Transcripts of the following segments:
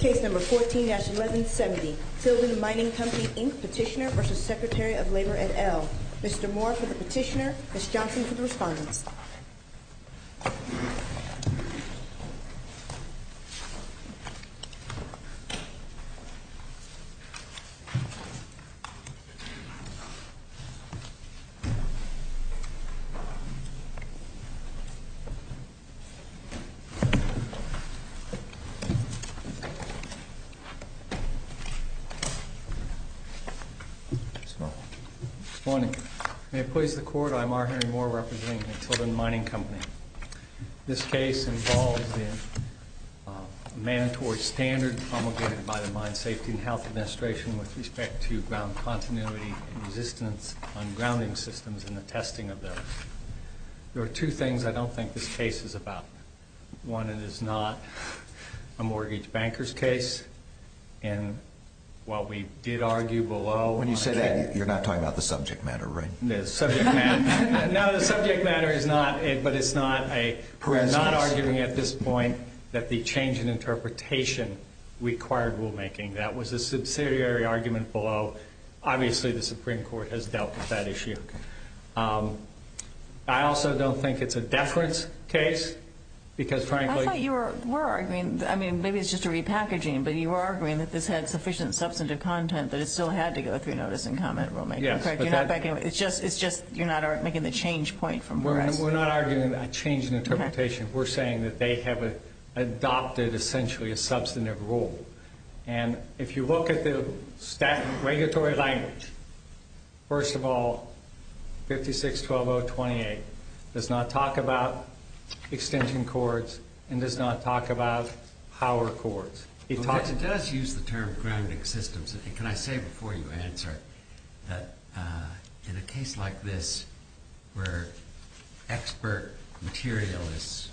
Case number 14-1170, Tilden Mining Company, Inc. petitioner v. Secretary of Labor et al. Mr. Moore for the petitioner, Ms. Johnson for the respondents. Good morning. May it please the Court, I'm R. Henry Moore representing the Tilden Mining Company. This case involves the mandatory standard promulgated by the Mine Safety and Health Administration with respect to ground continuity and resistance on grounding systems and the testing of those. There are two things I don't think this case is about. One, it is not a mortgage banker's case. And while we did argue below... When you say that, you're not talking about the subject matter, right? No, the subject matter is not it, but it's not a... We're not arguing at this point that the change in interpretation required rulemaking. That was a subsidiary argument below. Obviously, the Supreme Court has dealt with that issue. I also don't think it's a deference case because frankly... I thought you were arguing... I mean, maybe it's just a repackaging, but you were arguing that this had sufficient substantive content that it still had to go through notice and comment rulemaking. Yes, but that... It's just you're not making the change point from where I stand. We're not arguing a change in interpretation. We're saying that they have adopted essentially a substantive rule. And if you look at the statutory language, first of all, 56-12028 does not talk about extension cords and does not talk about power cords. It does use the term grounding systems. Can I say before you answer that in a case like this where expert material is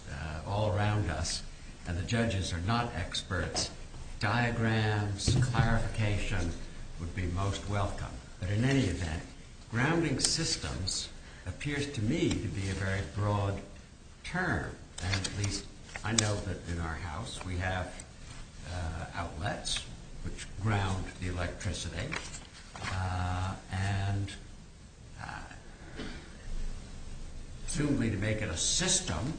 all around us and the judges are not experts, diagrams, clarification would be most welcome. But in any event, grounding systems appears to me to be a very broad term. And at least I know that in our house we have outlets which ground the electricity. And... Assumably to make it a system,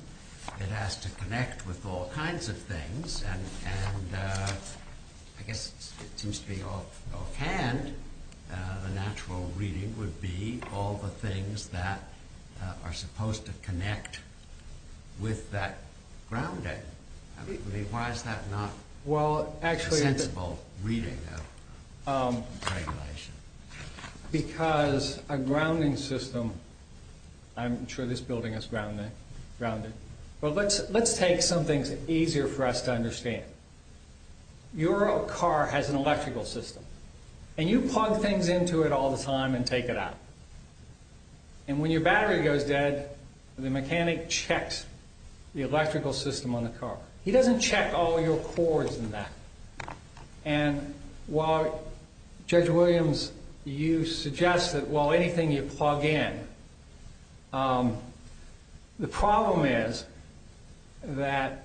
it has to connect with all kinds of things. And I guess it seems to be offhand, the natural reading would be all the things that are supposed to connect with that grounding. I mean, why is that not a sensible reading of regulation? Because a grounding system... I'm sure this building is grounded. But let's take some things easier for us to understand. Your car has an electrical system. And you plug things into it all the time and take it out. And when your battery goes dead, the mechanic checks the electrical system on the car. He doesn't check all your cords and that. And while, Judge Williams, you suggest that while anything you plug in, the problem is that...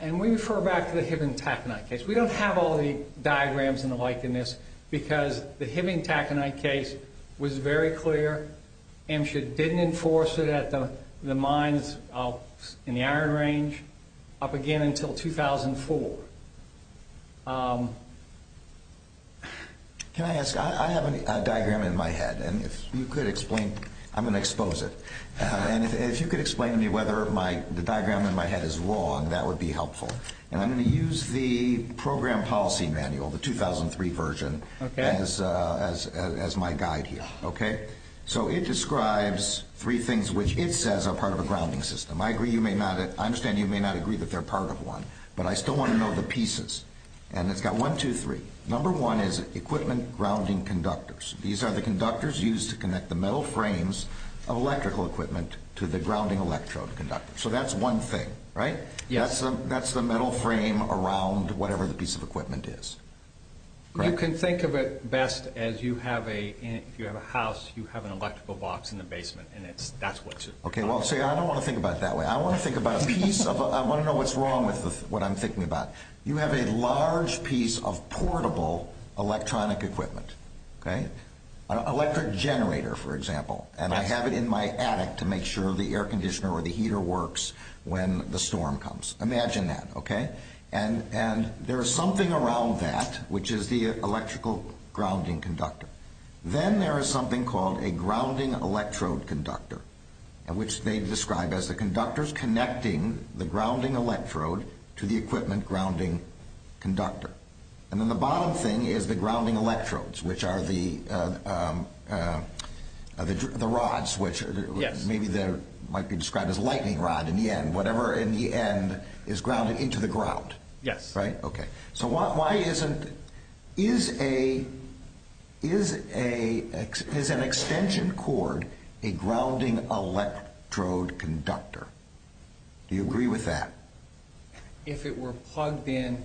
And we refer back to the Hibbing-Taconite case. We don't have all the diagrams and the like in this because the Hibbing-Taconite case was very clear. Amesha didn't enforce it at all. So the mine's in the iron range up again until 2004. Can I ask... I have a diagram in my head. And if you could explain... I'm going to expose it. And if you could explain to me whether the diagram in my head is wrong, that would be helpful. And I'm going to use the Program Policy Manual, the 2003 version, as my guide here. So it describes three things which it says are part of a grounding system. I understand you may not agree that they're part of one, but I still want to know the pieces. And it's got one, two, three. Number one is equipment grounding conductors. These are the conductors used to connect the metal frames of electrical equipment to the grounding electrode conductor. So that's one thing, right? That's the metal frame around whatever the piece of equipment is. You can think of it best as you have a... if you have a house, you have an electrical box in the basement, and that's what... Okay, well, see, I don't want to think about it that way. I want to think about a piece of... I want to know what's wrong with what I'm thinking about. You have a large piece of portable electronic equipment, okay? An electric generator, for example. And I have it in my attic to make sure the air conditioner or the heater works when the storm comes. Imagine that, okay? And there is something around that, which is the electrical grounding conductor. Then there is something called a grounding electrode conductor, which they describe as the conductors connecting the grounding electrode to the equipment grounding conductor. And then the bottom thing is the grounding electrodes, which are the rods, which maybe might be described as lightning rod in the end, whatever in the end is grounded into the ground. Yes. Right? Okay. So why isn't... is an extension cord a grounding electrode conductor? Do you agree with that? If it were plugged in,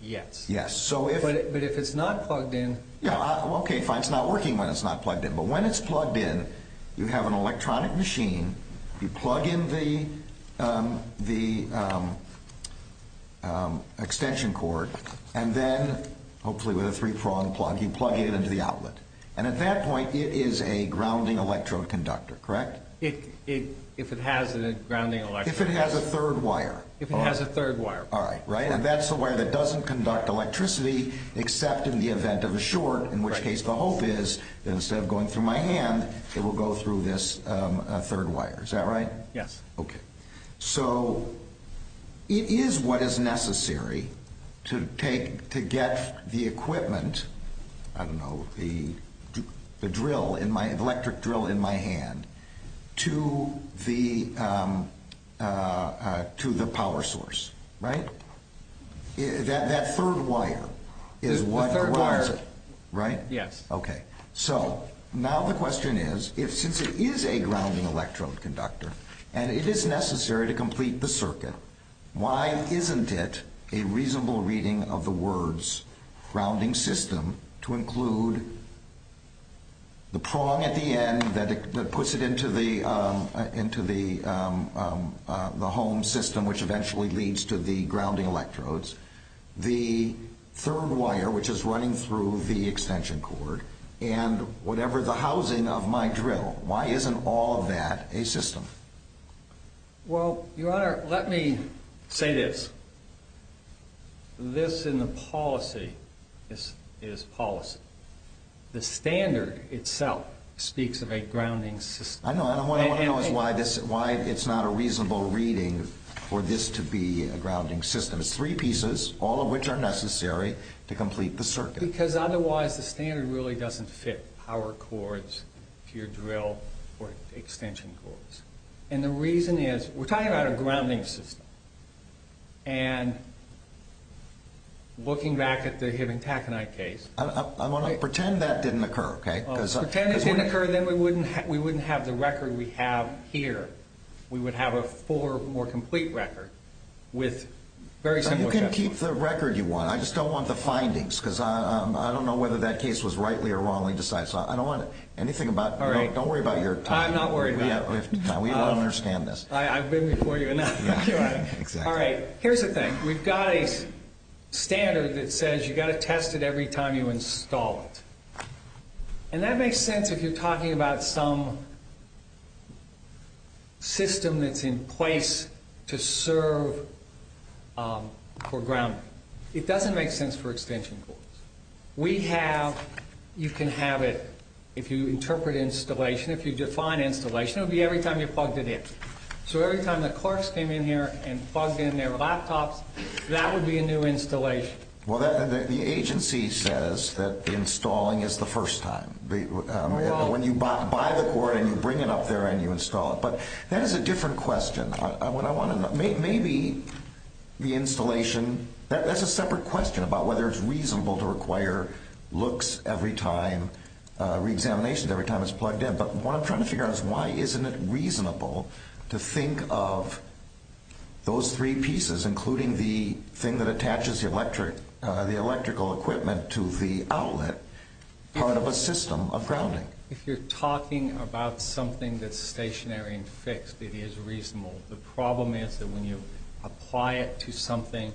yes. Yes. So if... But if it's not plugged in... Okay, fine. It's not working when it's not plugged in. But when it's plugged in, you have an electronic machine, you plug in the extension cord, and then, hopefully with a three-prong plug, you plug it into the outlet. And at that point, it is a grounding electrode conductor, correct? If it has a grounding electrode. If it has a third wire. If it has a third wire. All right. Right? And that's the wire that doesn't conduct electricity, except in the short, in which case the hope is that instead of going through my hand, it will go through this third wire. Is that right? Yes. Okay. So it is what is necessary to take... to get the equipment, I don't know, the drill in my... electric drill in my hand to the power source, right? That third wire is what drives it. Right? Yes. Okay. So, now the question is, since it is a grounding electrode conductor, and it is necessary to complete the circuit, why isn't it a reasonable reading of the words, grounding system, to include the prong at the end that puts it into the home system, which eventually leads to the grounding electrodes, the third wire, which is running through the extension cord, and whatever the housing of my drill, why isn't all of that a system? Well, Your Honor, let me say this. This in the policy is policy. The standard itself speaks of a grounding system. I know. What I want to know is why it's not a reasonable reading for this to be a grounding system. It's three pieces, all of which are necessary to complete the circuit. Because otherwise the standard really doesn't fit power cords to your drill or extension cords. And the reason is, we're talking about a grounding system, and looking back at the Hibbing-Taconite case... I want to pretend that didn't occur, okay? Pretend it didn't occur, then we wouldn't have the record we have here. We would have a fuller, more complete record with very similar... You can keep the record you want. I just don't want the findings, because I don't know whether that case was rightly or wrongly decided. So I don't want anything about... All right. Don't worry about your time. I'm not worried about it. We don't understand this. I've been before you enough, Your Honor. Exactly. All right. Here's the thing. We've got a standard that says you've got to test it every time you install it. And that makes sense if you're talking about some system that's in place to serve for grounding. It doesn't make sense for extension cords. We have... You can have it, if you interpret installation, if you define installation, it would be every time you plugged it in. So every time the clerks came in here and plugged in their laptops, that would be a new installation. Well, the agency says that installing is the first time. When you buy the cord and you bring it up there and you install it. But that is a different question. Maybe the installation... That's a separate question about whether it's reasonable to require looks every time, reexamination every time it's plugged in. But what I'm trying to figure out is why isn't it reasonable to think of those three pieces, including the thing that connects the electrical equipment to the outlet, part of a system of grounding. If you're talking about something that's stationary and fixed, it is reasonable. The problem is that when you apply it to something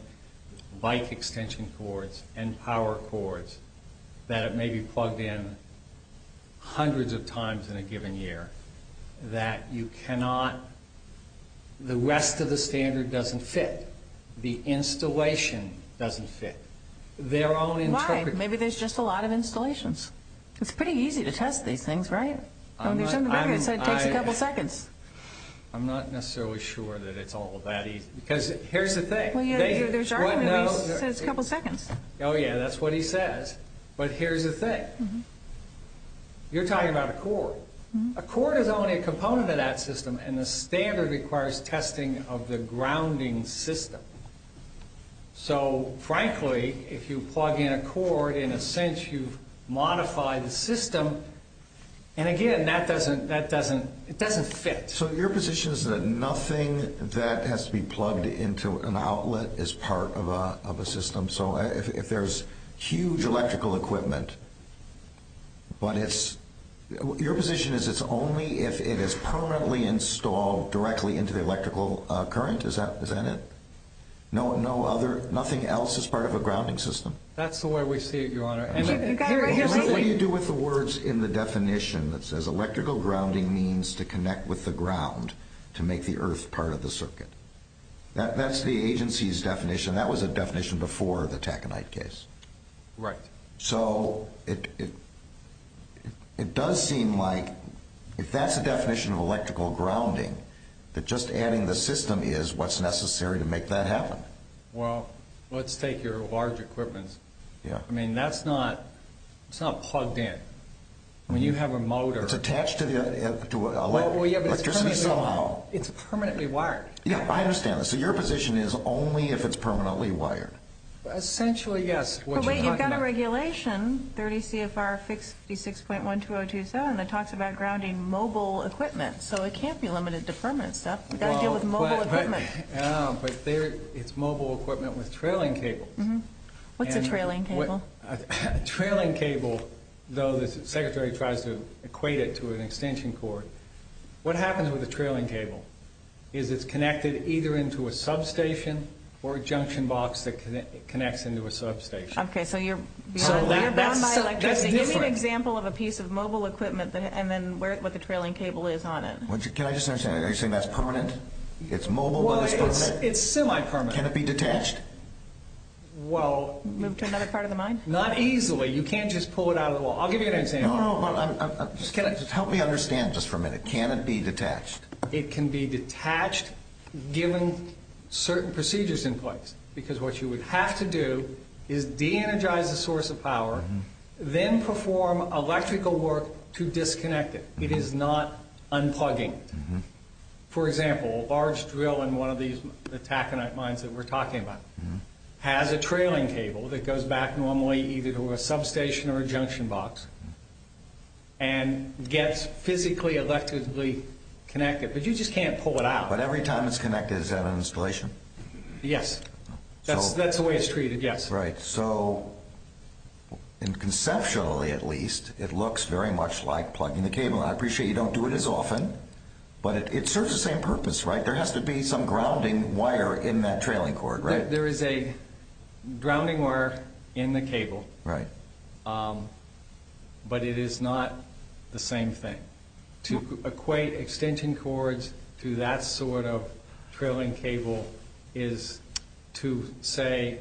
like extension cords and power cords, that it may be plugged in hundreds of times in a given year, that you cannot... The rest of the standard doesn't fit. The installation doesn't fit. Their own interpretation... Why? Maybe there's just a lot of installations. It's pretty easy to test these things, right? When there's something like this, it takes a couple seconds. I'm not necessarily sure that it's all that easy. Because here's the thing... Well, yeah, there's our one that says a couple seconds. Oh, yeah, that's what he says. But here's the thing. You're talking about a cord. A grounding system. So frankly, if you plug in a cord, in a sense you've modified the system. And again, that doesn't... It doesn't fit. So your position is that nothing that has to be plugged into an outlet is part of a system. So if there's huge electrical equipment, but it's... Your position is it's only if it is permanently installed directly into the electrical current? Is that it? No other... Nothing else is part of a grounding system? That's the way we see it, Your Honor. What do you do with the words in the definition that says electrical grounding means to connect with the ground to make the earth part of the circuit? That's the agency's definition. That was a definition before the Taconite case. Right. So it does seem like if that's the definition of electrical grounding, that just adding the system is what's necessary to make that happen. Well, let's take your large equipment. I mean, that's not... It's not plugged in. When you have a motor... It's attached to electricity somehow. It's permanently wired. Yeah, I understand that. So your position is only if it's permanently wired? Essentially, yes. But wait, you've got a regulation, 30 CFR 56.12027, that talks about grounding mobile equipment. So it can't be limited to permanent stuff. You've got to deal with mobile equipment. But it's mobile equipment with trailing cables. What's a trailing cable? A trailing cable, though the Secretary tries to equate it to an extension cord, what happens with a trailing cable is it's connected either into a substation or a junction box that connects into a substation. Okay, so you're bound by electricity. Give me an example of a piece of mobile equipment and then what the trailing cable is on it. Can I just understand that? Are you saying that's permanent? It's mobile, but it's permanent? Well, it's semi-permanent. Can it be detached? Well... Move to another part of the mind? Not easily. You can't just pull it out of the wall. I'll give you an example. No, no, no. Help me understand just for a minute. Can it be detached? It can be detached given certain procedures in place. Because what you would have to do is de-energize the source of power, then perform electrical work to disconnect it. It is not unplugging. For example, a large drill in one of these attack and night mines that we're talking about has a trailing cable that goes back normally either to a substation or a junction box and gets physically, electrically connected. But you just can't pull it out. But every time it's connected, is that an installation? Yes. That's the way it's treated, yes. Right. So, conceptually at least, it looks very much like plugging the cable in. I appreciate you don't do it as often, but it serves the same purpose, right? There has to be some grounding wire in that trailing cord, right? There is a grounding wire in the cable, but it is not the same thing. To equate extension cords to that sort of trailing cable is to say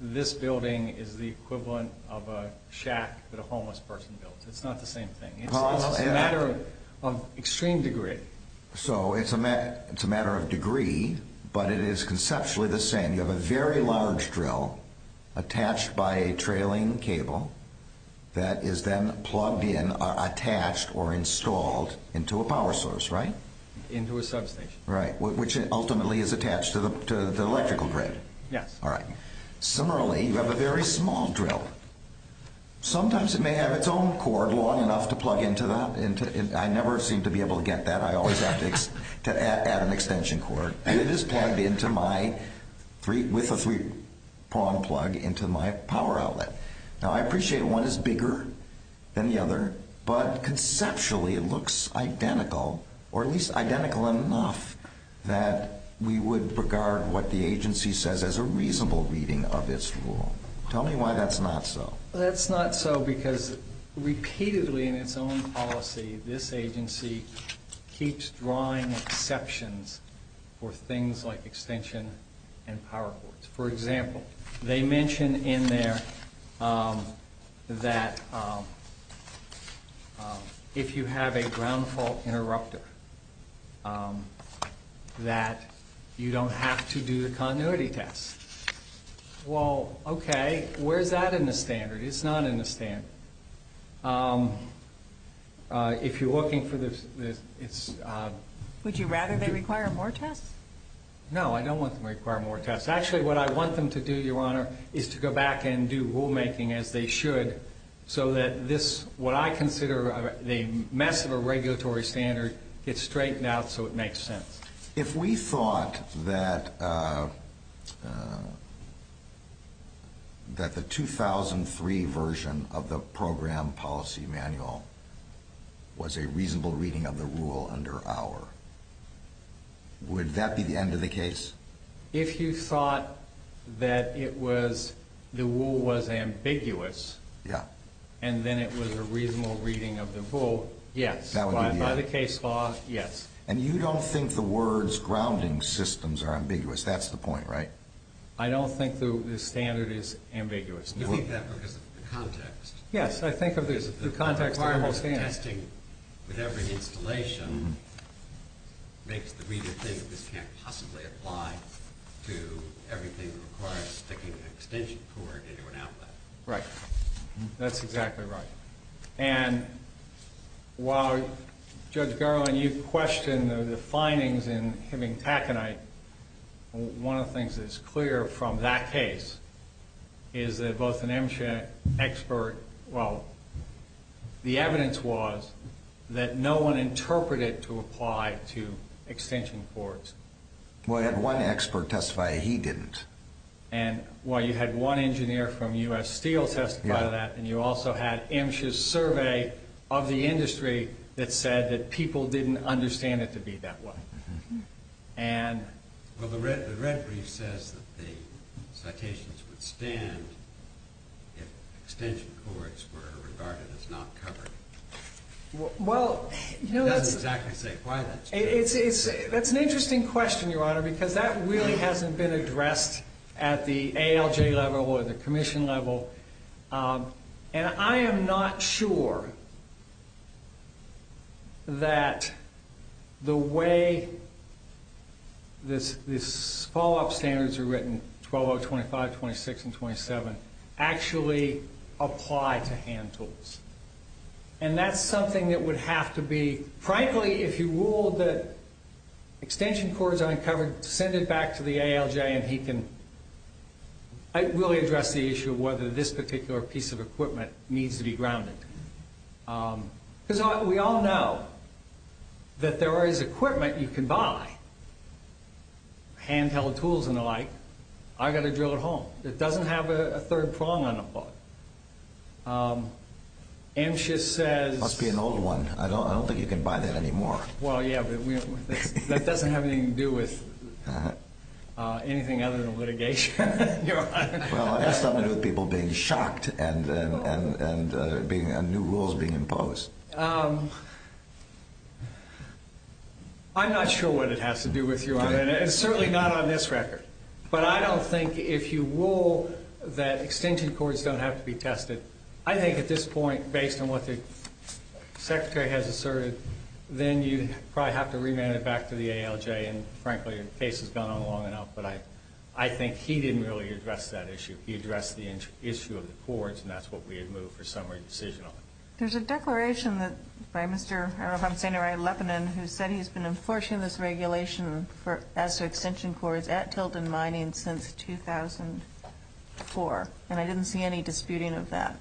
this building is the equivalent of a shack that a homeless person builds. It's not the same thing. It's a matter of extreme degree. So, it's a matter of degree, but it is conceptually the same. You have a very large drill attached by a trailing cable that is then plugged in, attached or installed into a power source, right? Into a substation. Right, which ultimately is attached to the electrical grid. Yes. Similarly, you have a very small drill. Sometimes it may have its own cord long enough to plug into that. I never seem to be able to get that. I always have to add an extension cord. It is plugged into my, with a three-prong plug, into my power outlet. Now, I appreciate one is bigger than the other, but conceptually it looks identical, or at least identical enough that we would regard what the agency says as a reasonable reading of its rule. Tell me why that's not so. That's not so because repeatedly in its own policy, this agency keeps drawing exceptions for things like extension and power cords. For example, they mention in there that if you have a ground fault interrupter, that you don't have to do the continuity test. Well, okay. Where's that in the standard? It's not in the standard. If you're looking for this, it's... Would you rather they require more tests? No, I don't want them to require more tests. Actually, what I want them to do, Your Honor, is to go back and do rulemaking as they should so that this, what I consider the mess of a regulatory standard, gets straightened out so it makes sense. If we thought that the 2003 version of the program policy manual was a reasonable reading of the rule under our, would that be the end of the case? If you thought that it was, the rule was ambiguous... Yeah. ...and then it was a reasonable reading of the rule, yes. That would be the end. By the case law, yes. And you don't think the words grounding systems are ambiguous. That's the point, right? I don't think the standard is ambiguous. You think that because of the context. Yes, I think of the context of the whole standard. The context of testing with every installation makes the reader think this can't possibly apply to everything that requires sticking an extension cord into an outlet. Right. That's exactly right. And while Judge Garland, you've questioned the findings in Heming Takenight, one of the things that's clear from that case is that both an MSHA expert, well, the evidence was that no one interpreted to apply to extension cords. Well, I had one expert testify he didn't. And while you had one engineer from U.S. Steel testify to that and you also had MSHA's survey of the industry that said that people didn't understand it to be that way. Well, the red brief says that the citations would stand if extension cords were regarded as not covered. It doesn't exactly say why that's true. That's an interesting question, Your Honor, because that really hasn't been addressed at the ALJ level or the commission level. And I am not sure that the way this follow-up standards are written, 12.0, 25, 26, and 27, actually apply to hand tools. And that's something that would have to be, frankly, if you ruled that extension cords aren't covered, send it back to the ALJ and he can really address the issue of whether this particular piece of equipment needs to be grounded. Because we all know that there is equipment you can buy, handheld tools and the like, I've got to drill it home. It doesn't have a third prong on the plug. MSHA says- Well, yeah, but that doesn't have anything to do with anything other than litigation, Your Honor. Well, it has something to do with people being shocked and new rules being imposed. I'm not sure what it has to do with you, Your Honor, and certainly not on this record. But I don't think if you rule that extension cords don't have to be tested, I think at this point, based on what the Secretary has asserted, then you probably have to remand it back to the ALJ. And, frankly, the case has gone on long enough. But I think he didn't really address that issue. He addressed the issue of the cords, and that's what we had moved for summary decision on. There's a declaration by Mr. I don't know if I'm saying it right, Leppanen, who said he's been enforcing this regulation as to extension cords at Tilton Mining since 2004. And I didn't see any disputing of that.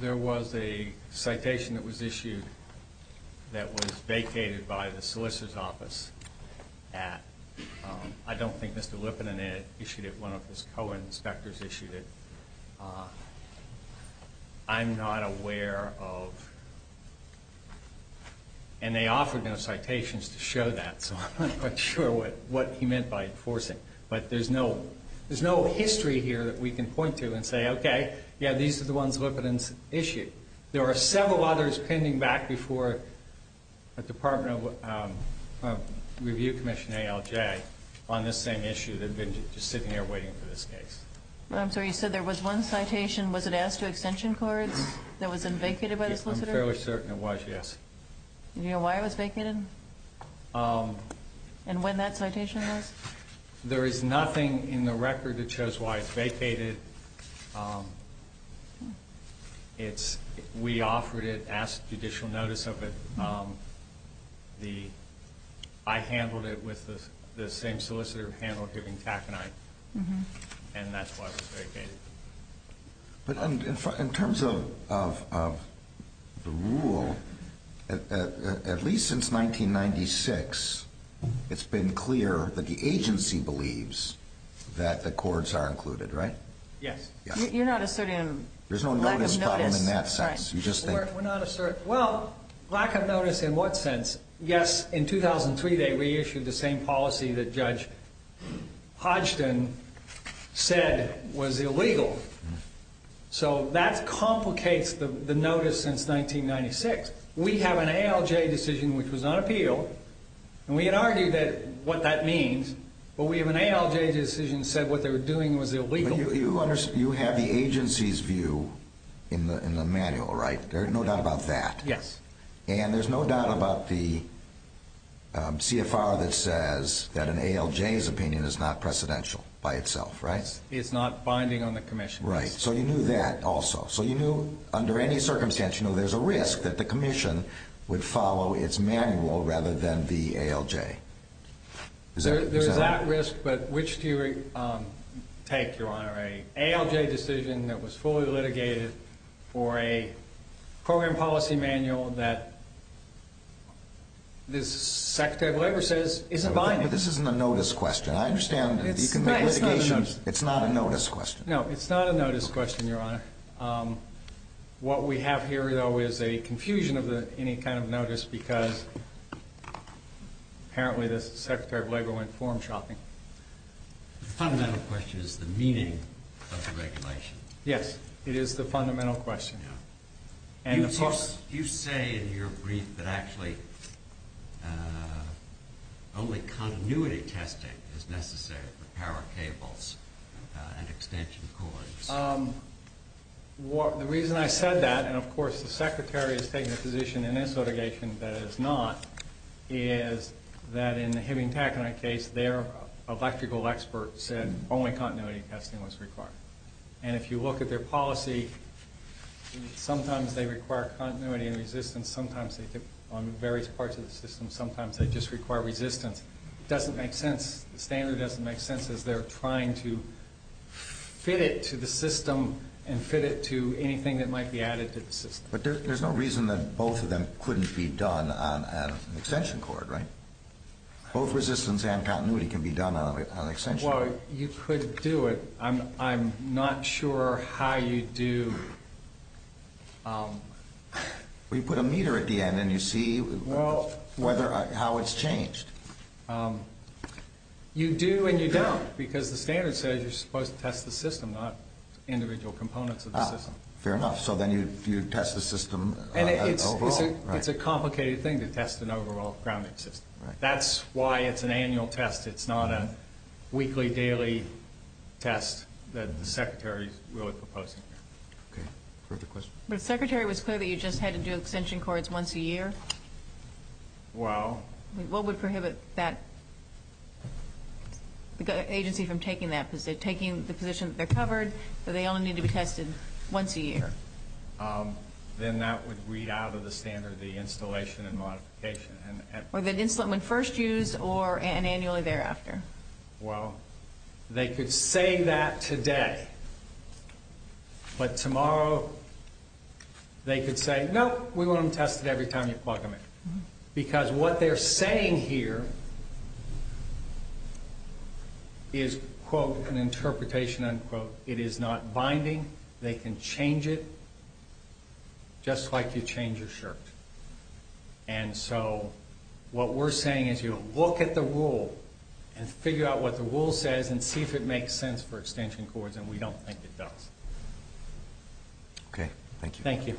There was a citation that was issued that was vacated by the solicitor's office. I don't think Mr. Leppanen issued it. One of his co-inspectors issued it. I'm not aware of-and they offered no citations to show that, so I'm not quite sure what he meant by enforcing. But there's no history here that we can point to and say, okay, yeah, these are the ones Leppanen's issued. There are several others pending back before the Department of Review Commission ALJ on this same issue that have been just sitting there waiting for this case. I'm sorry, you said there was one citation. Was it asked to extension cords that was vacated by the solicitor? I'm fairly certain it was, yes. Do you know why it was vacated? And when that citation was? There is nothing in the record that shows why it's vacated. We offered it, asked judicial notice of it. I handled it with the same solicitor who handled Higgins-Tack and I, and that's why it was vacated. But in terms of the rule, at least since 1996, it's been clear that the agency believes that the cords are included, right? Yes. You're not asserting a lack of notice? There's no notice problem in that sense. All right. We're not asserting-well, lack of notice in what sense? Yes, in 2003 they reissued the same policy that Judge Hodgson said was illegal. So that complicates the notice since 1996. We have an ALJ decision which was on appeal, and we had argued what that means, but we have an ALJ decision that said what they were doing was illegal. You have the agency's view in the manual, right? There's no doubt about that. Yes. And there's no doubt about the CFR that says that an ALJ's opinion is not precedential by itself, right? It's not binding on the commission. Right. So you knew that also. So you knew under any circumstance you knew there's a risk that the commission would follow its manual rather than the ALJ. Is that right? Yes, but which do you take, Your Honor? An ALJ decision that was fully litigated or a program policy manual that the Secretary of Labor says isn't binding? This isn't a notice question. I understand that you can make litigation. It's not a notice question. No, it's not a notice question, Your Honor. What we have here, though, is a confusion of any kind of notice because apparently the Secretary of Labor went form shopping. The fundamental question is the meaning of the regulation. Yes, it is the fundamental question. You say in your brief that actually only continuity testing is necessary for power cables and extension cords. The reason I said that, and, of course, the Secretary has taken a position in this litigation that it is not, is that in the Heming-Packeney case their electrical expert said only continuity testing was required. And if you look at their policy, sometimes they require continuity and resistance. Sometimes they do it on various parts of the system. Sometimes they just require resistance. It doesn't make sense. The standard doesn't make sense as they're trying to fit it to the system and fit it to anything that might be added to the system. But there's no reason that both of them couldn't be done on an extension cord, right? Both resistance and continuity can be done on an extension cord. Well, you could do it. I'm not sure how you do. Well, you put a meter at the end and you see how it's changed. You do and you don't because the standard says you're supposed to test the system, not individual components of the system. Fair enough. So then you test the system overall. It's a complicated thing to test an overall grounding system. That's why it's an annual test. It's not a weekly, daily test that the Secretary is really proposing. Okay. Perfect question. But if the Secretary was clear that you just had to do extension cords once a year? Well. What would prohibit that agency from taking the position that they're covered, that they only need to be tested once a year? Then that would read out of the standard the installation and modification. With an insulant when first used or annually thereafter? Well, they could say that today. But tomorrow they could say, no, we want them tested every time you plug them in. Because what they're saying here is, quote, an interpretation, unquote, it is not binding. They can change it just like you change your shirt. And so what we're saying is you look at the rule and figure out what the rule says and see if it makes sense for extension cords. And we don't think it does. Okay. Thank you. Thank you.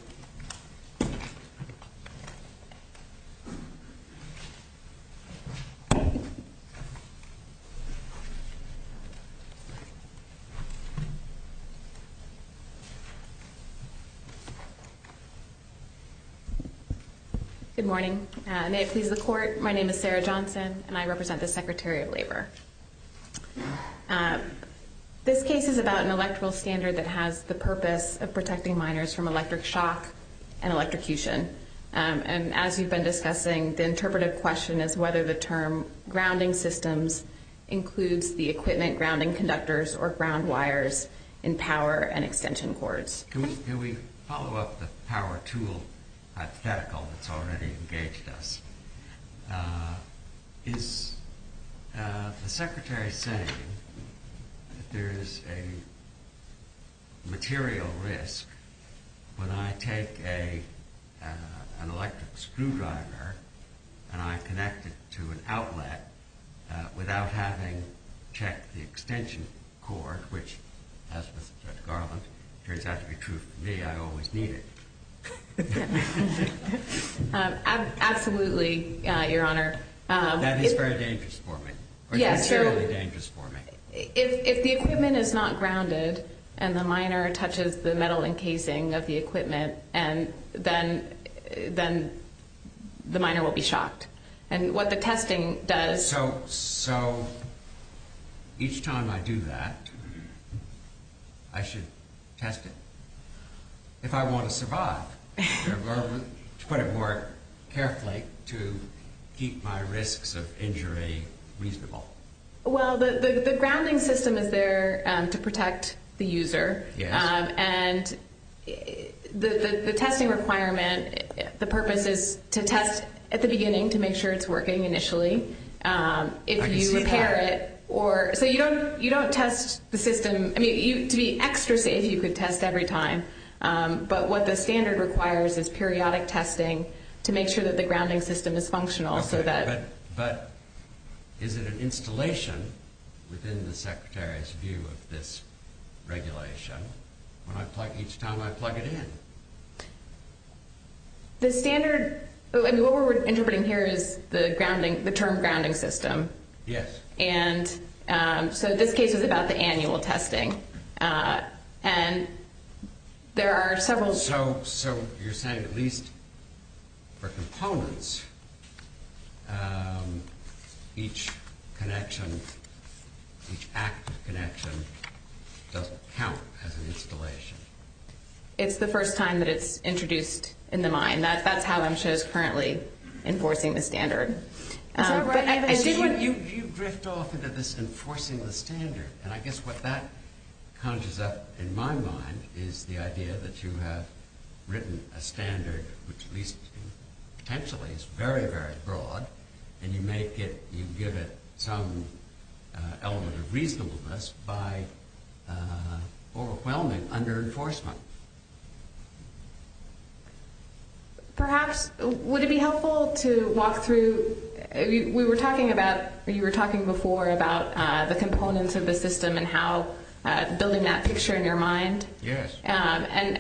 Good morning. May it please the Court. My name is Sarah Johnson, and I represent the Secretary of Labor. This case is about an electoral standard that has the purpose of protecting minors from electric shock and electrocution. And as you've been discussing, the interpretive question is whether the term grounding systems includes the equipment grounding conductors or ground wires in power and extension cords. Can we follow up the power tool hypothetical that's already engaged us? Is the Secretary saying that there is a material risk when I take an electric screwdriver and I connect it to an outlet without having checked the extension cord, which, as with the garland, turns out to be true for me. I always need it. Absolutely, Your Honor. That is very dangerous for me. That's really dangerous for me. If the equipment is not grounded and the minor touches the metal encasing of the equipment, then the minor will be shocked. And what the testing does... So each time I do that, I should test it. If I want to survive, to put it more carefully, to keep my risks of injury reasonable. Well, the grounding system is there to protect the user. And the testing requirement, the purpose is to test at the beginning to make sure it's working initially. If you repair it or... So you don't test the system. I mean, to be extra safe, you could test every time. But what the standard requires is periodic testing to make sure that the grounding system is functional so that... But is it an installation within the Secretary's view of this regulation each time I plug it in? The standard... I mean, what we're interpreting here is the term grounding system. Yes. And so this case is about the annual testing. And there are several... So you're saying at least for components, each connection, each active connection doesn't count as an installation. It's the first time that it's introduced in the mine. That's how MSHA is currently enforcing the standard. You drift off into this enforcing the standard. And I guess what that conjures up in my mind is the idea that you have written a standard, which at least potentially is very, very broad, and you give it some element of reasonableness by overwhelming under enforcement. Perhaps, would it be helpful to walk through... You were talking before about the components of the system and how building that picture in your mind. Yes. And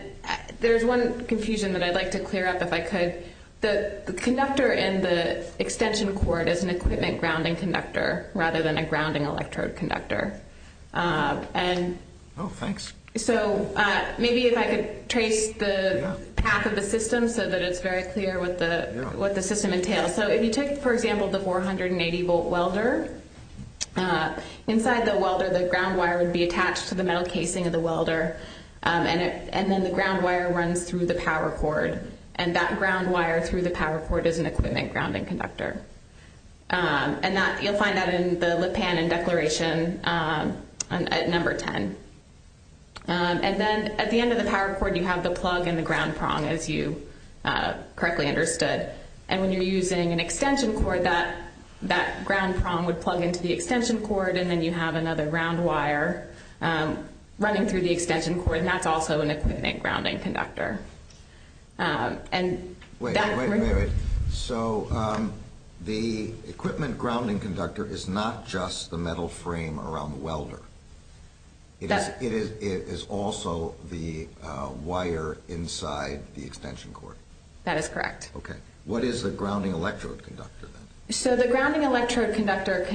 there's one confusion that I'd like to clear up if I could. The conductor in the extension cord is an equipment grounding conductor rather than a grounding electrode conductor. Oh, thanks. So maybe if I could trace the path of the system so that it's very clear what the system entails. So if you took, for example, the 480-volt welder, inside the welder, the ground wire would be attached to the metal casing of the welder, and then the ground wire runs through the power cord. And that ground wire through the power cord is an equipment grounding conductor. And you'll find that in the lip pan and declaration at number 10. And then at the end of the power cord, you have the plug and the ground prong, as you correctly understood. And when you're using an extension cord, that ground prong would plug into the extension cord, and then you have another round wire running through the extension cord, and that's also an equipment grounding conductor. Wait, wait, wait, wait. So the equipment grounding conductor is not just the metal frame around the welder. It is also the wire inside the extension cord. That is correct. Okay. What is the grounding electrode conductor, then? So the grounding electrode conductor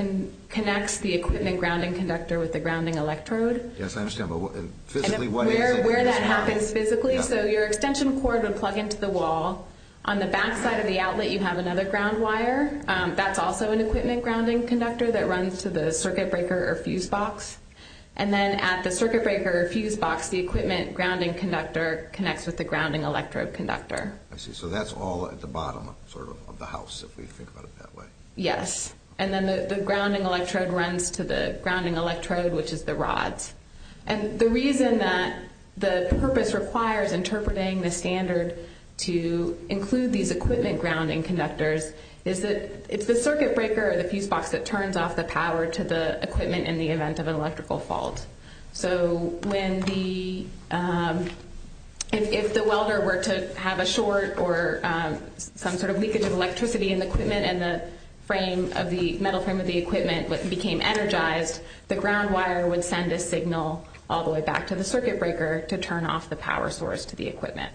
connects the equipment grounding conductor with the grounding electrode. Yes, I understand. But physically, what is it? And where that happens physically, so your extension cord would plug into the wall. On the back side of the outlet, you have another ground wire. That's also an equipment grounding conductor that runs to the circuit breaker or fuse box. And then at the circuit breaker or fuse box, the equipment grounding conductor connects with the grounding electrode conductor. I see. So that's all at the bottom sort of of the house, if we think about it that way. Yes. And then the grounding electrode runs to the grounding electrode, which is the rods. And the reason that the purpose requires interpreting the standard to include these equipment grounding conductors is that it's the circuit breaker or the fuse box that turns off the power to the equipment in the event of an electrical fault. So if the welder were to have a short or some sort of leakage of electricity in the equipment and the metal frame of the equipment became energized, the ground wire would send a signal all the way back to the circuit breaker to turn off the power source to the equipment.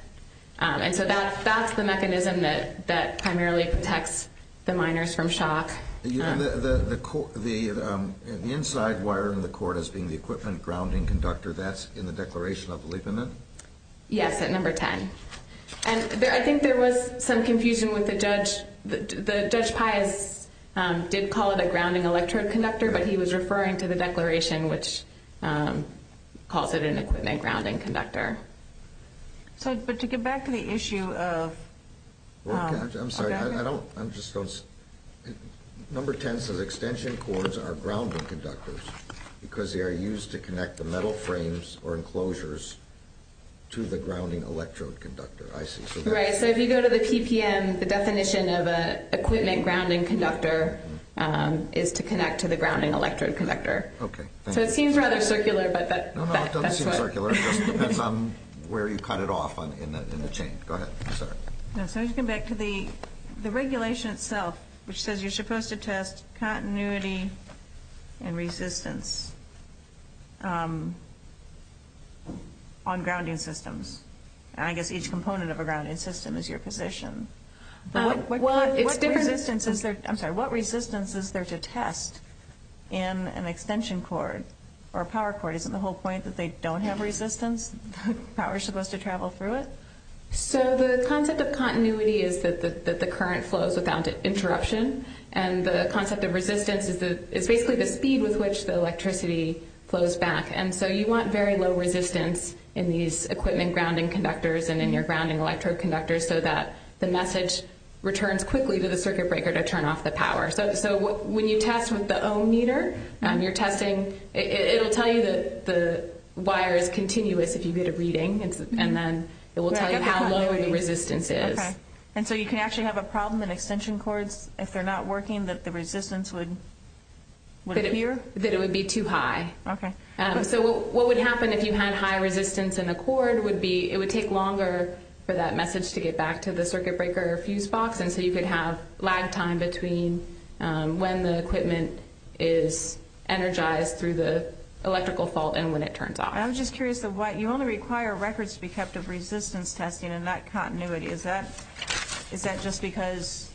And so that's the mechanism that primarily protects the miners from shock. The inside wire in the cord as being the equipment grounding conductor, that's in the Declaration of the Leap Amendment? Yes, at number 10. And I think there was some confusion with the judge. Judge Pius did call it a grounding electrode conductor, but he was referring to the Declaration, which calls it an equipment grounding conductor. But to get back to the issue of… I'm sorry, I just don't… Number 10 says extension cords are grounding conductors because they are used to connect the metal frames or enclosures to the grounding electrode conductor. I see. Right, so if you go to the PPM, the definition of an equipment grounding conductor is to connect to the grounding electrode conductor. Okay. So it seems rather circular, but that's what… Where you cut it off in the chain. Go ahead, sir. So if you come back to the regulation itself, which says you're supposed to test continuity and resistance on grounding systems. And I guess each component of a grounding system is your position. It's different… I'm sorry, what resistance is there to test in an extension cord or a power cord? Isn't the whole point that they don't have resistance? Power is supposed to travel through it? So the concept of continuity is that the current flows without interruption. And the concept of resistance is basically the speed with which the electricity flows back. And so you want very low resistance in these equipment grounding conductors and in your grounding electrode conductors so that the message returns quickly to the circuit breaker to turn off the power. So when you test with the ohm meter, you're testing… It'll tell you that the wire is continuous if you get a reading. And then it will tell you how low the resistance is. Okay. And so you can actually have a problem in extension cords if they're not working, that the resistance would appear? That it would be too high. Okay. So what would happen if you had high resistance in the cord would be… It would take longer for that message to get back to the circuit breaker fuse box. And so you could have lag time between when the equipment is energized through the electrical fault and when it turns off. I'm just curious of what… You only require records to be kept of resistance testing and not continuity. Is that just because…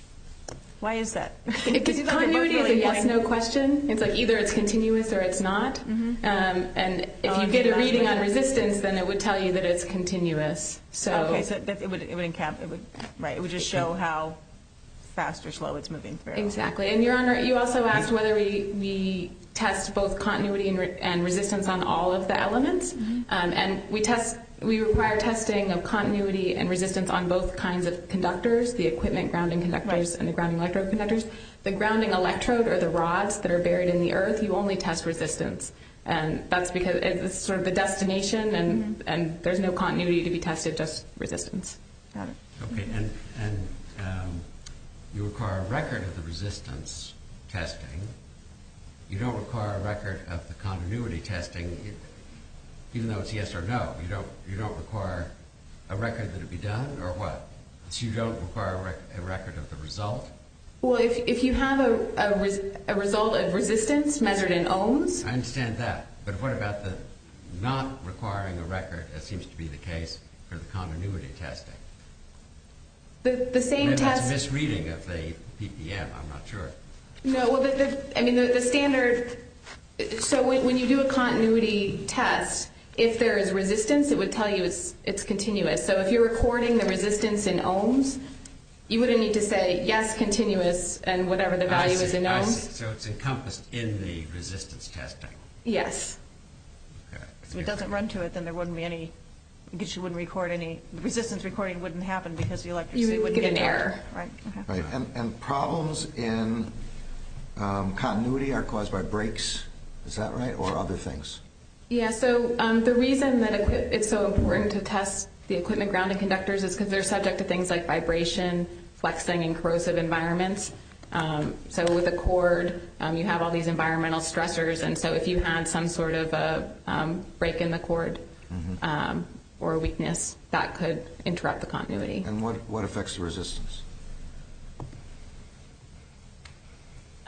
Why is that? Because continuity is a yes-no question. It's like either it's continuous or it's not. And if you get a reading on resistance, then it would tell you that it's continuous. Okay. Right. It would just show how fast or slow it's moving through. Exactly. And, Your Honor, you also asked whether we test both continuity and resistance on all of the elements. And we require testing of continuity and resistance on both kinds of conductors, the equipment grounding conductors and the grounding electrode conductors. The grounding electrode are the rods that are buried in the earth. You only test resistance. And that's because it's sort of the destination, and there's no continuity to be tested, just resistance. Got it. Okay. And you require a record of the resistance testing. You don't require a record of the continuity testing, even though it's yes or no. You don't require a record that it be done or what? So you don't require a record of the result? Well, if you have a result of resistance measured in ohms… I understand that. But what about the not requiring a record, as seems to be the case, for the continuity testing? The same test… Maybe it's misreading of the PPM. I'm not sure. No. Well, I mean, the standard… So when you do a continuity test, if there is resistance, it would tell you it's continuous. So if you're recording the resistance in ohms, you would need to say, yes, continuous, and whatever the value is in ohms. So it's encompassed in the resistance testing. Yes. Okay. So if it doesn't run to it, then there wouldn't be any… Because you wouldn't record any… The resistance recording wouldn't happen because the electricity wouldn't get… You would get an error. Right. And problems in continuity are caused by breaks. Is that right? Or other things? Yeah. So the reason that it's so important to test the equipment grounding conductors is because they're subject to things like vibration, flexing, and corrosive environments. So with a cord, you have all these environmental stressors. And so if you had some sort of a break in the cord or weakness, that could interrupt the continuity. And what affects the resistance?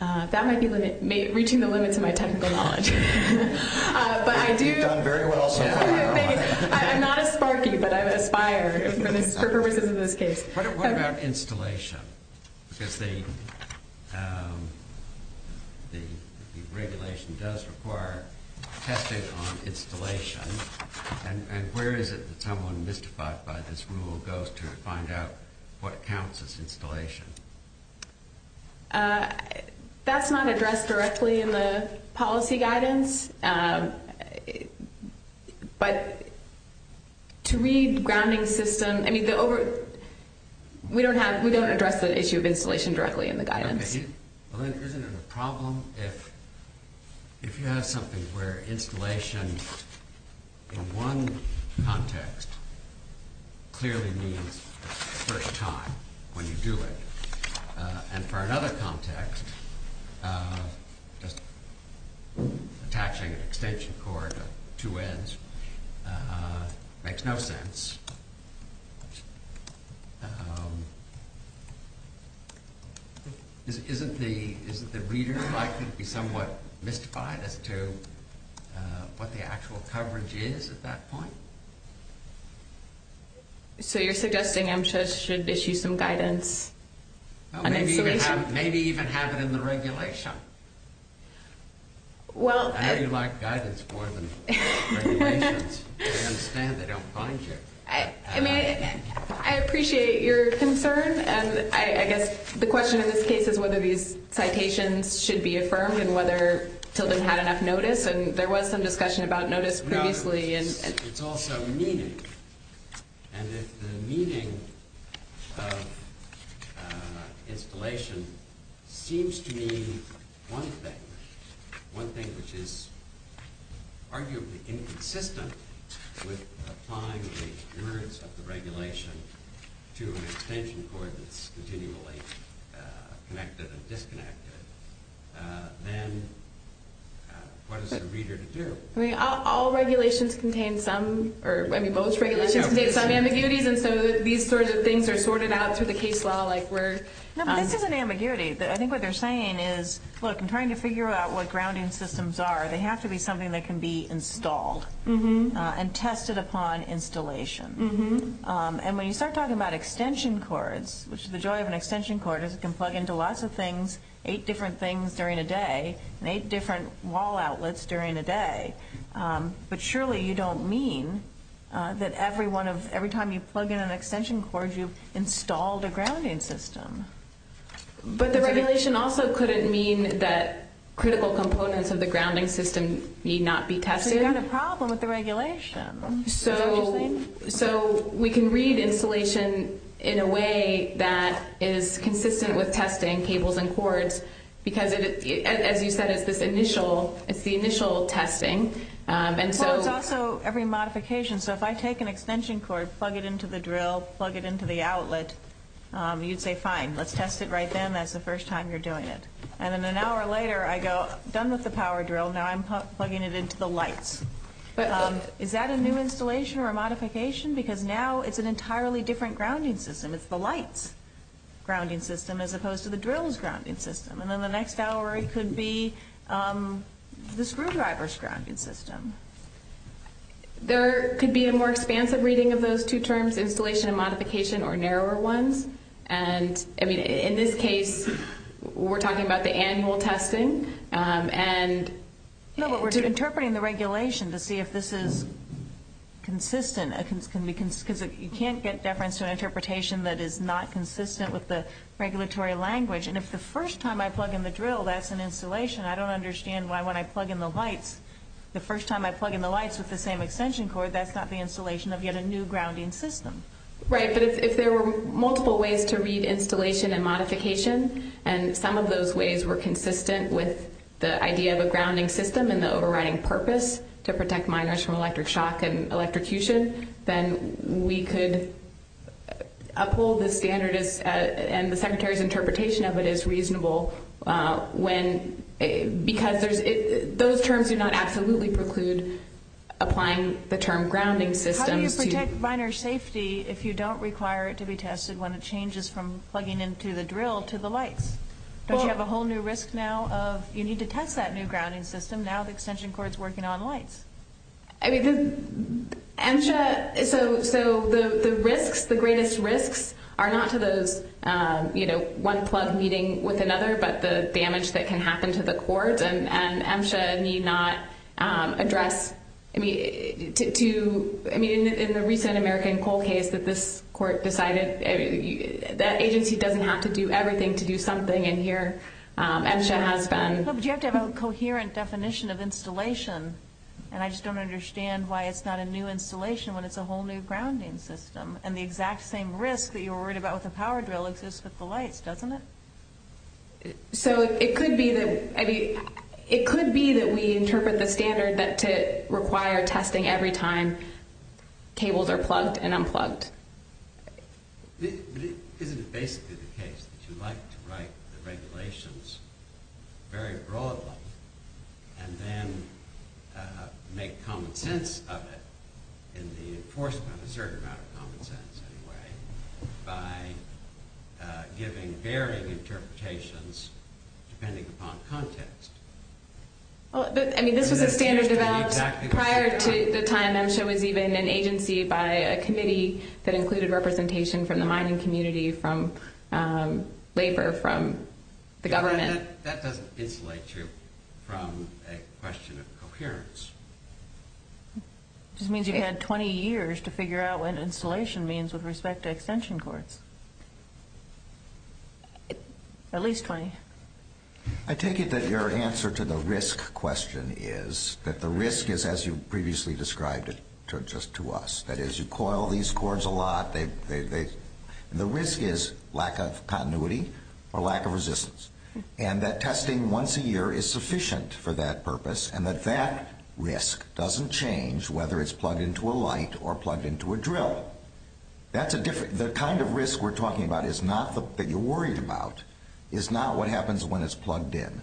That might be reaching the limits of my technical knowledge. But I do… You've done very well so far. Thank you. I'm not as sparky, but I aspire for purposes of this case. What about installation? Because the regulation does require testing on installation. And where is it that someone mystified by this rule goes to find out what counts as installation? That's not addressed directly in the policy guidance. But to read grounding system… I mean, we don't address the issue of installation directly in the guidance. Isn't it a problem if you have something where installation in one context clearly means the first time when you do it, and for another context, just attaching an extension cord on two ends makes no sense? Isn't the reader likely to be somewhat mystified as to what the actual coverage is at that point? So you're suggesting MSHA should issue some guidance on installation? Maybe even have it in the regulation. I know you like guidance more than regulations. I understand they don't find you. I appreciate your concern. And I guess the question in this case is whether these citations should be affirmed and whether Tilden had enough notice. And there was some discussion about notice previously. It's also meaning. And if the meaning of installation seems to mean one thing, one thing which is arguably inconsistent with applying the merits of the regulation to an extension cord that's continually connected and disconnected, then what is the reader to do? All regulations contain some, or both regulations contain some ambiguities, and so these sorts of things are sorted out through the case law. This isn't ambiguity. I think what they're saying is, look, in trying to figure out what grounding systems are, they have to be something that can be installed and tested upon installation. And when you start talking about extension cords, which is the joy of an extension cord, because it can plug into lots of things, eight different things during a day, and eight different wall outlets during a day, but surely you don't mean that every time you plug in an extension cord you've installed a grounding system. But the regulation also couldn't mean that critical components of the grounding system need not be tested. So you've got a problem with the regulation, is that what you're saying? So we can read installation in a way that is consistent with testing cables and cords, because, as you said, it's the initial testing. Well, it's also every modification. So if I take an extension cord, plug it into the drill, plug it into the outlet, you'd say, fine, let's test it right then. That's the first time you're doing it. And then an hour later I go, done with the power drill, now I'm plugging it into the lights. Is that a new installation or a modification? Because now it's an entirely different grounding system. It's the light's grounding system as opposed to the drill's grounding system. And then the next hour it could be the screwdriver's grounding system. There could be a more expansive reading of those two terms, installation and modification, or narrower ones. And, I mean, in this case we're talking about the annual testing. No, but we're interpreting the regulation to see if this is consistent. Because you can't get deference to an interpretation that is not consistent with the regulatory language. And if the first time I plug in the drill, that's an installation. I don't understand why when I plug in the lights, the first time I plug in the lights with the same extension cord, that's not the installation of yet a new grounding system. Right, but if there were multiple ways to read installation and modification, and some of those ways were consistent with the idea of a grounding system and the overriding purpose to protect minors from electric shock and electrocution, then we could uphold the standard and the Secretary's interpretation of it as reasonable. Because those terms do not absolutely preclude applying the term grounding systems. How do you protect minor safety if you don't require it to be tested when it changes from Don't you have a whole new risk now of you need to test that new grounding system. Now the extension cord is working on lights. I mean, the MSHA, so the risks, the greatest risks are not to those, you know, one plug meeting with another, but the damage that can happen to the cord. And MSHA need not address, I mean, to, I mean, in the recent American coal case that this court decided, that agency doesn't have to do everything to do something, and here MSHA has been. But you have to have a coherent definition of installation, and I just don't understand why it's not a new installation when it's a whole new grounding system. And the exact same risk that you were worried about with the power drill exists with the lights, doesn't it? So it could be that, I mean, it could be that we interpret the standard that to require testing every time cables are plugged and unplugged. Isn't it basically the case that you like to write the regulations very broadly and then make common sense of it in the enforcement, a certain amount of common sense anyway, by giving varying interpretations depending upon context? Well, I mean, this was a standard developed prior to the time MSHA was even an agency by a committee that included representation from the mining community, from labor, from the government. That doesn't insulate you from a question of coherence. It just means you've had 20 years to figure out what installation means with respect to extension cords. At least 20. I take it that your answer to the risk question is that the risk is, as you previously described it just to us, that as you coil these cords a lot, the risk is lack of continuity or lack of resistance, and that testing once a year is sufficient for that purpose, and that that risk doesn't change whether it's plugged into a light or plugged into a drill. The kind of risk we're talking about that you're worried about is not what happens when it's plugged in.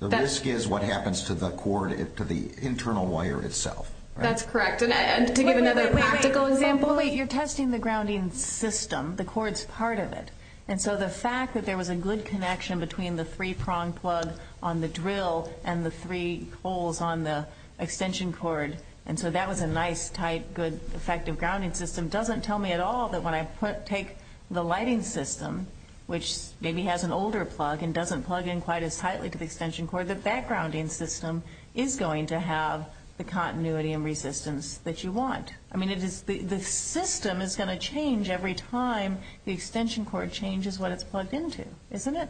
The risk is what happens to the cord, to the internal wire itself. That's correct. And to give another practical example. Wait, you're testing the grounding system. The cord's part of it. And so the fact that there was a good connection between the three-prong plug on the drill and the three holes on the extension cord, and so that was a nice, tight, good, effective grounding system, doesn't tell me at all that when I take the lighting system, which maybe has an older plug and doesn't plug in quite as tightly to the extension cord, that that grounding system is going to have the continuity and resistance that you want. I mean, the system is going to change every time the extension cord changes what it's plugged into, isn't it?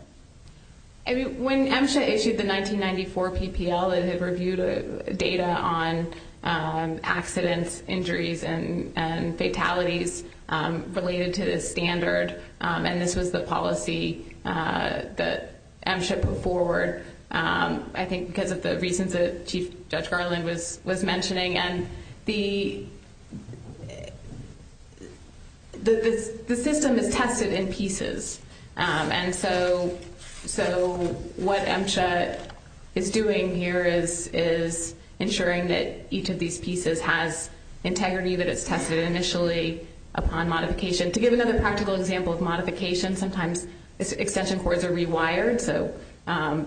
When MSHA issued the 1994 PPL, it had reviewed data on accidents, injuries, and fatalities related to this standard, and this was the policy that MSHA put forward, I think because of the reasons that Chief Judge Garland was mentioning. And the system is tested in pieces. And so what MSHA is doing here is ensuring that each of these pieces has integrity, that it's tested initially upon modification. To give another practical example of modification, sometimes extension cords are rewired, and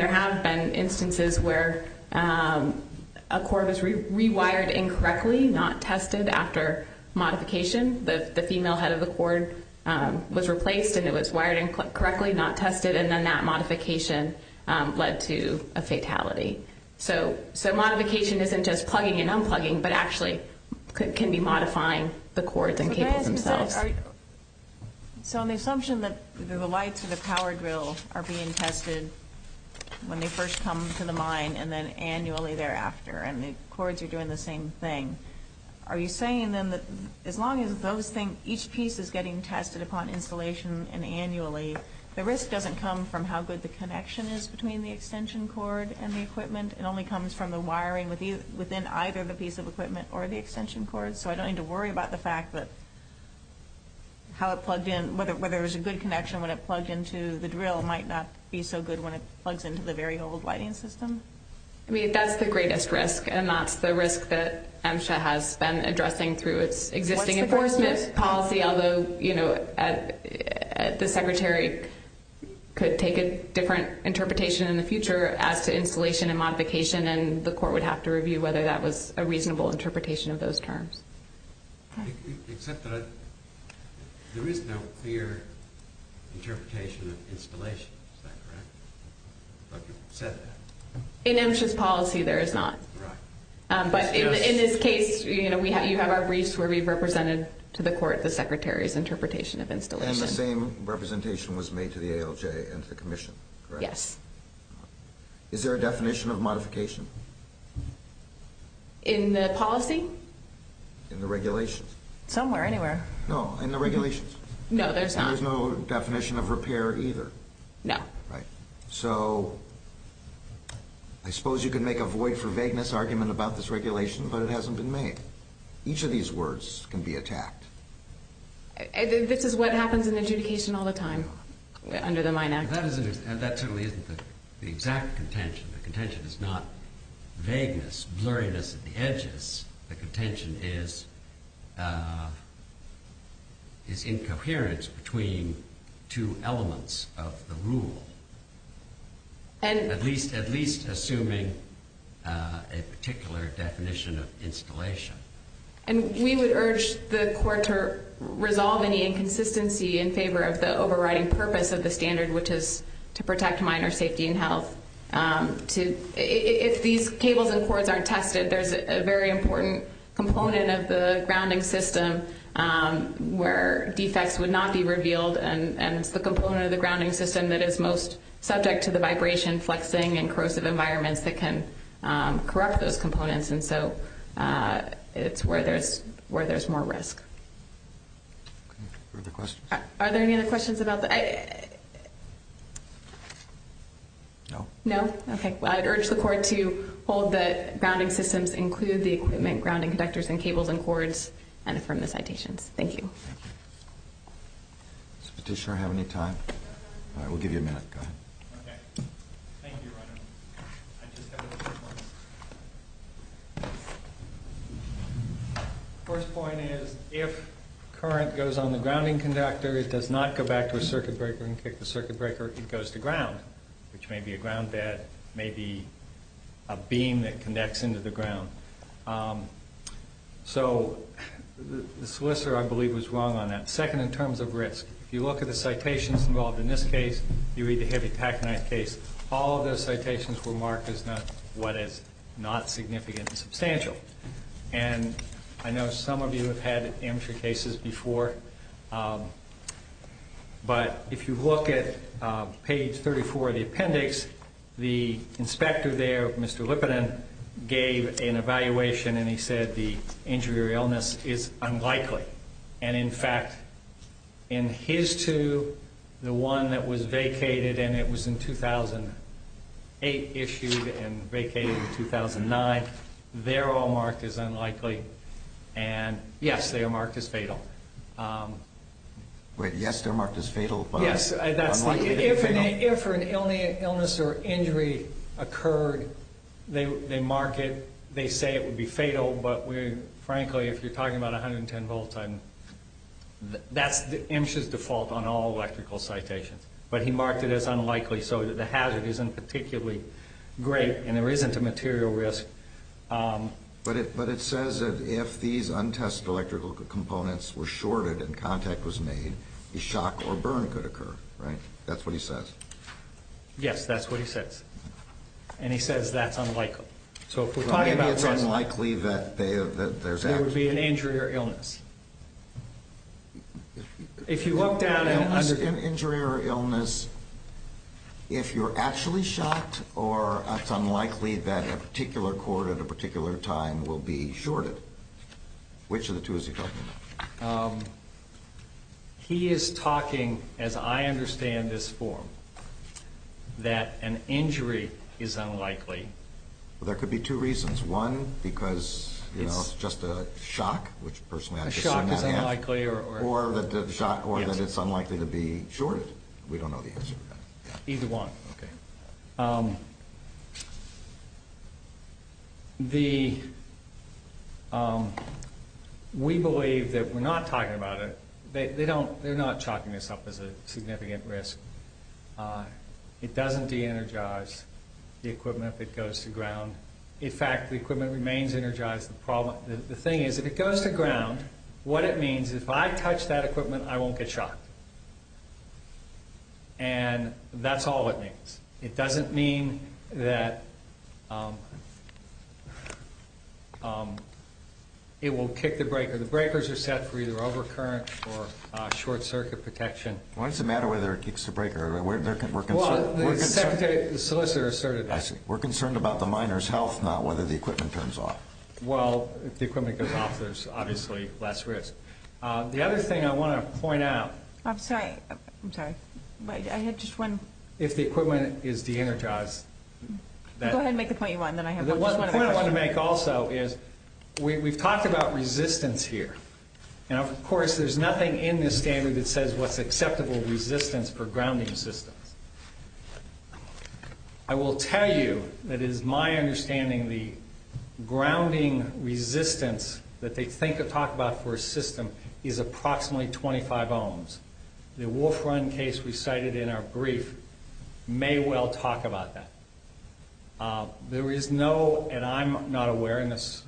there have been instances where a cord is rewired incorrectly, not tested after modification. The female head of the cord was replaced, and it was wired incorrectly, not tested, and then that modification led to a fatality. So modification isn't just plugging and unplugging, but actually can be modifying the cords and cables themselves. So on the assumption that the lights or the power drill are being tested when they first come to the mine, and then annually thereafter, and the cords are doing the same thing, are you saying then that as long as those things, each piece is getting tested upon installation and annually, the risk doesn't come from how good the connection is between the extension cord and the equipment. It only comes from the wiring within either the piece of equipment or the extension cord. So I don't need to worry about the fact that how it plugged in, whether it was a good connection when it plugged into the drill, might not be so good when it plugs into the very old lighting system? I mean, that's the greatest risk, and that's the risk that MSHA has been addressing through its existing enforcement policy, although the secretary could take a different interpretation in the future as to installation and modification, and the court would have to review whether that was a reasonable interpretation of those terms. Except that there is no clear interpretation of installation, is that correct? In MSHA's policy, there is not. But in this case, you have our briefs where we've represented to the court the secretary's interpretation of installation. And the same representation was made to the ALJ and to the commission, correct? Yes. Is there a definition of modification? In the policy? In the regulations? Somewhere, anywhere. No, in the regulations? No, there's not. There's no definition of repair either? No. Right. So I suppose you could make a void for vagueness argument about this regulation, but it hasn't been made. Each of these words can be attacked. This is what happens in adjudication all the time under the Mine Act. That certainly isn't the exact contention. The contention is not vagueness, blurriness at the edges. The contention is incoherence between two elements of the rule, at least assuming a particular definition of installation. And we would urge the court to resolve any inconsistency in favor of the overriding purpose of the standard, which is to protect miner safety and health. If these cables and cords aren't tested, there's a very important component of the grounding system where defects would not be revealed, and it's the component of the grounding system that is most subject to the vibration, flexing, and corrosive environments that can corrupt those components. And so it's where there's more risk. Further questions? Are there any other questions about the – No. No? Okay. Well, I'd urge the court to hold that grounding systems include the equipment, grounding conductors, and cables and cords, and affirm the citations. Thank you. Does the petitioner have any time? All right, we'll give you a minute. Go ahead. Okay. Thank you, Your Honor. I just have a few points. The first point is if current goes on the grounding conductor, it does not go back to a circuit breaker and kick the circuit breaker. It goes to ground, which may be a ground bed, may be a beam that connects into the ground. So the solicitor, I believe, was wrong on that. Second, in terms of risk, if you look at the citations involved in this case, if you read the heavy pack knife case, all of those citations were marked as what is not significant and substantial. And I know some of you have had amateur cases before, but if you look at page 34 of the appendix, the inspector there, Mr. Lippinen, gave an evaluation, and he said the injury or illness is unlikely. And, in fact, in his two, the one that was vacated, and it was in 2008 issued and vacated in 2009, they're all marked as unlikely. And, yes, they are marked as fatal. Wait. Yes, they're marked as fatal, but unlikely to be fatal? Yes. If an illness or injury occurred, they mark it. They say it would be fatal, but, frankly, if you're talking about 110 volts, that's MSHA's default on all electrical citations. But he marked it as unlikely so that the hazard isn't particularly great and there isn't a material risk. But it says that if these untested electrical components were shorted and contact was made, a shock or burn could occur, right? That's what he says. Yes, that's what he says. And he says that's unlikely. Maybe it's unlikely that there's actually... It would be an injury or illness. If you look down... An injury or illness, if you're actually shocked or it's unlikely that a particular cord at a particular time will be shorted, which of the two is he talking about? He is talking, as I understand this form, that an injury is unlikely. Well, there could be two reasons. One, because, you know, it's just a shock, which, personally, I've just seen that happen. A shock is unlikely or... Or that it's unlikely to be shorted. We don't know the answer to that. Either one. Okay. The... We believe that we're not talking about it. They're not chalking this up as a significant risk. It doesn't de-energize the equipment if it goes to ground. In fact, the equipment remains energized. The thing is, if it goes to ground, what it means is if I touch that equipment, I won't get shocked. And that's all it means. It doesn't mean that it will kick the breaker. The breakers are set for either overcurrent or short-circuit protection. Why does it matter whether it kicks the breaker? We're concerned. Well, the solicitor asserted that. I see. We're concerned about the miner's health, not whether the equipment turns off. Well, if the equipment goes off, there's obviously less risk. The other thing I want to point out... I'm sorry. I'm sorry. I had just one... If the equipment is de-energized... Go ahead and make the point you want, and then I have one. The point I want to make also is we've talked about resistance here. And, of course, there's nothing in this standard that says what's acceptable resistance for grounding systems. I will tell you that it is my understanding the grounding resistance that they talk about for a system is approximately 25 ohms. The Wolf Run case we cited in our brief may well talk about that. There is no, and I'm not aware, and the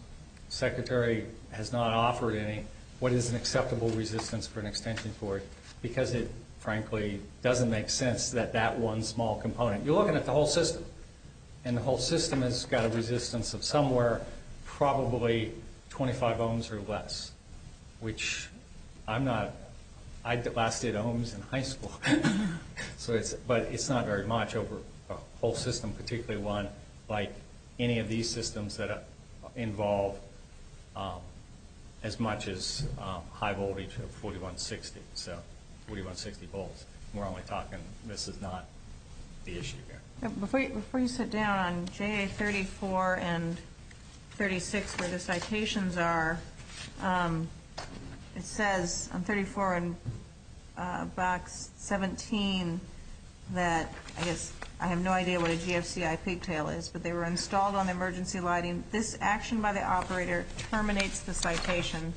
Secretary has not offered any, what is an acceptable resistance for an extension cord because it, frankly, doesn't make sense that that one small component... You're looking at the whole system, and the whole system has got a resistance of somewhere probably 25 ohms or less, which I'm not... I last did ohms in high school. But it's not very much over a whole system, particularly one like any of these systems that involve as much as high voltage of 4160. So 4160 volts. We're only talking... This is not the issue here. Before you sit down, on JA34 and 36, where the citations are, it says on 34 in box 17 that, I guess, I have no idea what a GFCI pigtail is, but they were installed on the emergency lighting. This action by the operator terminates the citation.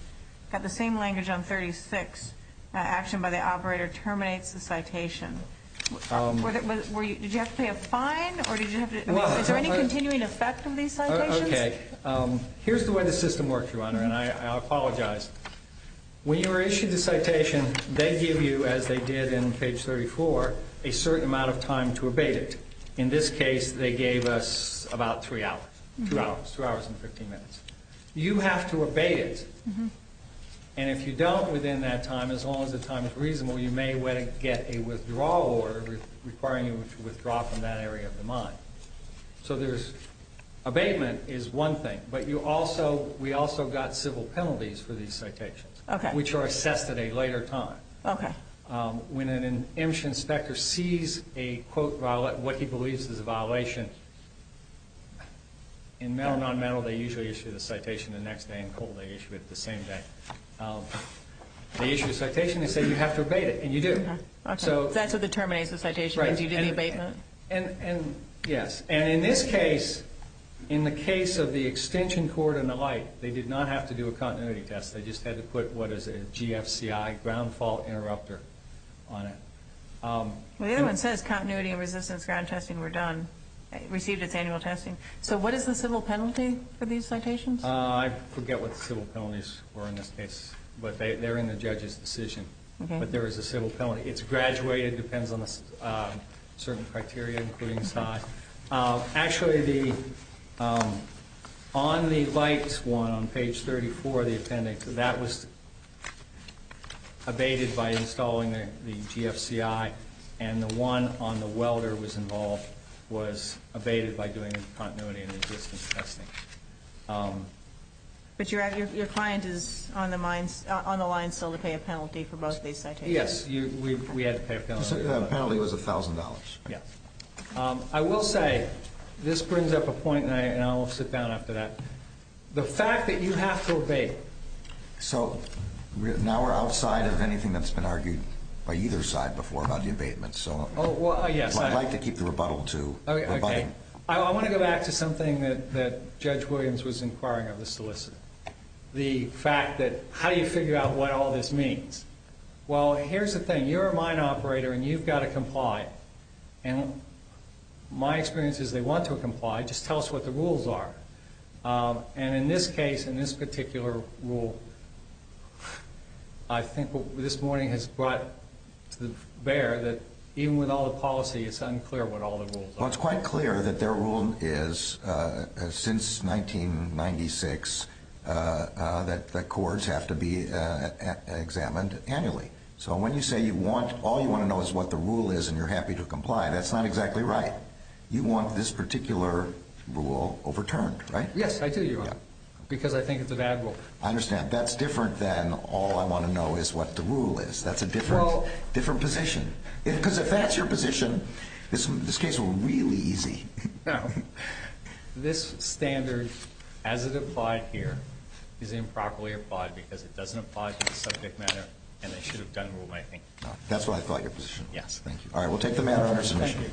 Got the same language on 36. Action by the operator terminates the citation. Did you have to pay a fine, or did you have to... Is there any continuing effect of these citations? Okay. Here's the way the system works, Your Honor, and I apologize. When you were issued the citation, they give you, as they did in page 34, a certain amount of time to abate it. In this case, they gave us about three hours, two hours and 15 minutes. You have to abate it. And if you don't within that time, as long as the time is reasonable, you may get a withdrawal order requiring you to withdraw from that area of the mine. So there's... Abatement is one thing, but we also got civil penalties for these citations, which are assessed at a later time. Okay. When an EMCHA inspector sees a, quote, what he believes is a violation, in metal and nonmetal, they usually issue the citation the next day, and in coal, they issue it the same day. They issue a citation, they say, you have to abate it, and you do. Okay. So that's what determines the citation, is you do the abatement? Right. And, yes. And in this case, in the case of the extension cord and the light, they did not have to do a continuity test. They just had to put what is a GFCI, ground fault interrupter, on it. Well, the other one says continuity and resistance ground testing were done, received its annual testing. So what is the civil penalty for these citations? I forget what the civil penalties were in this case, but they're in the judge's decision. But there is a civil penalty. It's graduated. It depends on certain criteria, including size. Actually, on the light one, on page 34 of the appendix, that was abated by installing the GFCI, and the one on the welder was abated by doing continuity and resistance testing. But your client is on the line still to pay a penalty for both these citations? Yes. We had to pay a penalty. The penalty was $1,000. Yes. I will say this brings up a point, and I will sit down after that. The fact that you have to abate. So now we're outside of anything that's been argued by either side before about the abatement. So I'd like to keep the rebuttal to rebutting. Okay. I want to go back to something that Judge Williams was inquiring of the solicitor, the fact that how do you figure out what all this means? Well, here's the thing. You're a mine operator, and you've got to comply. And my experience is they want to comply. Just tell us what the rules are. And in this case, in this particular rule, I think what this morning has brought to bear that even with all the policy, it's unclear what all the rules are. Well, it's quite clear that their rule is since 1996 that courts have to be examined annually. So when you say all you want to know is what the rule is and you're happy to comply, that's not exactly right. You want this particular rule overturned, right? Yes, I do, Your Honor, because I think it's a bad rule. I understand. That's different than all I want to know is what the rule is. That's a different position. Because if that's your position, this case will be really easy. No. This standard, as it applied here, is improperly applied because it doesn't apply to the subject matter, and I should have done what I think. That's what I thought your position was. Yes. Thank you. All right, we'll take the matter under submission.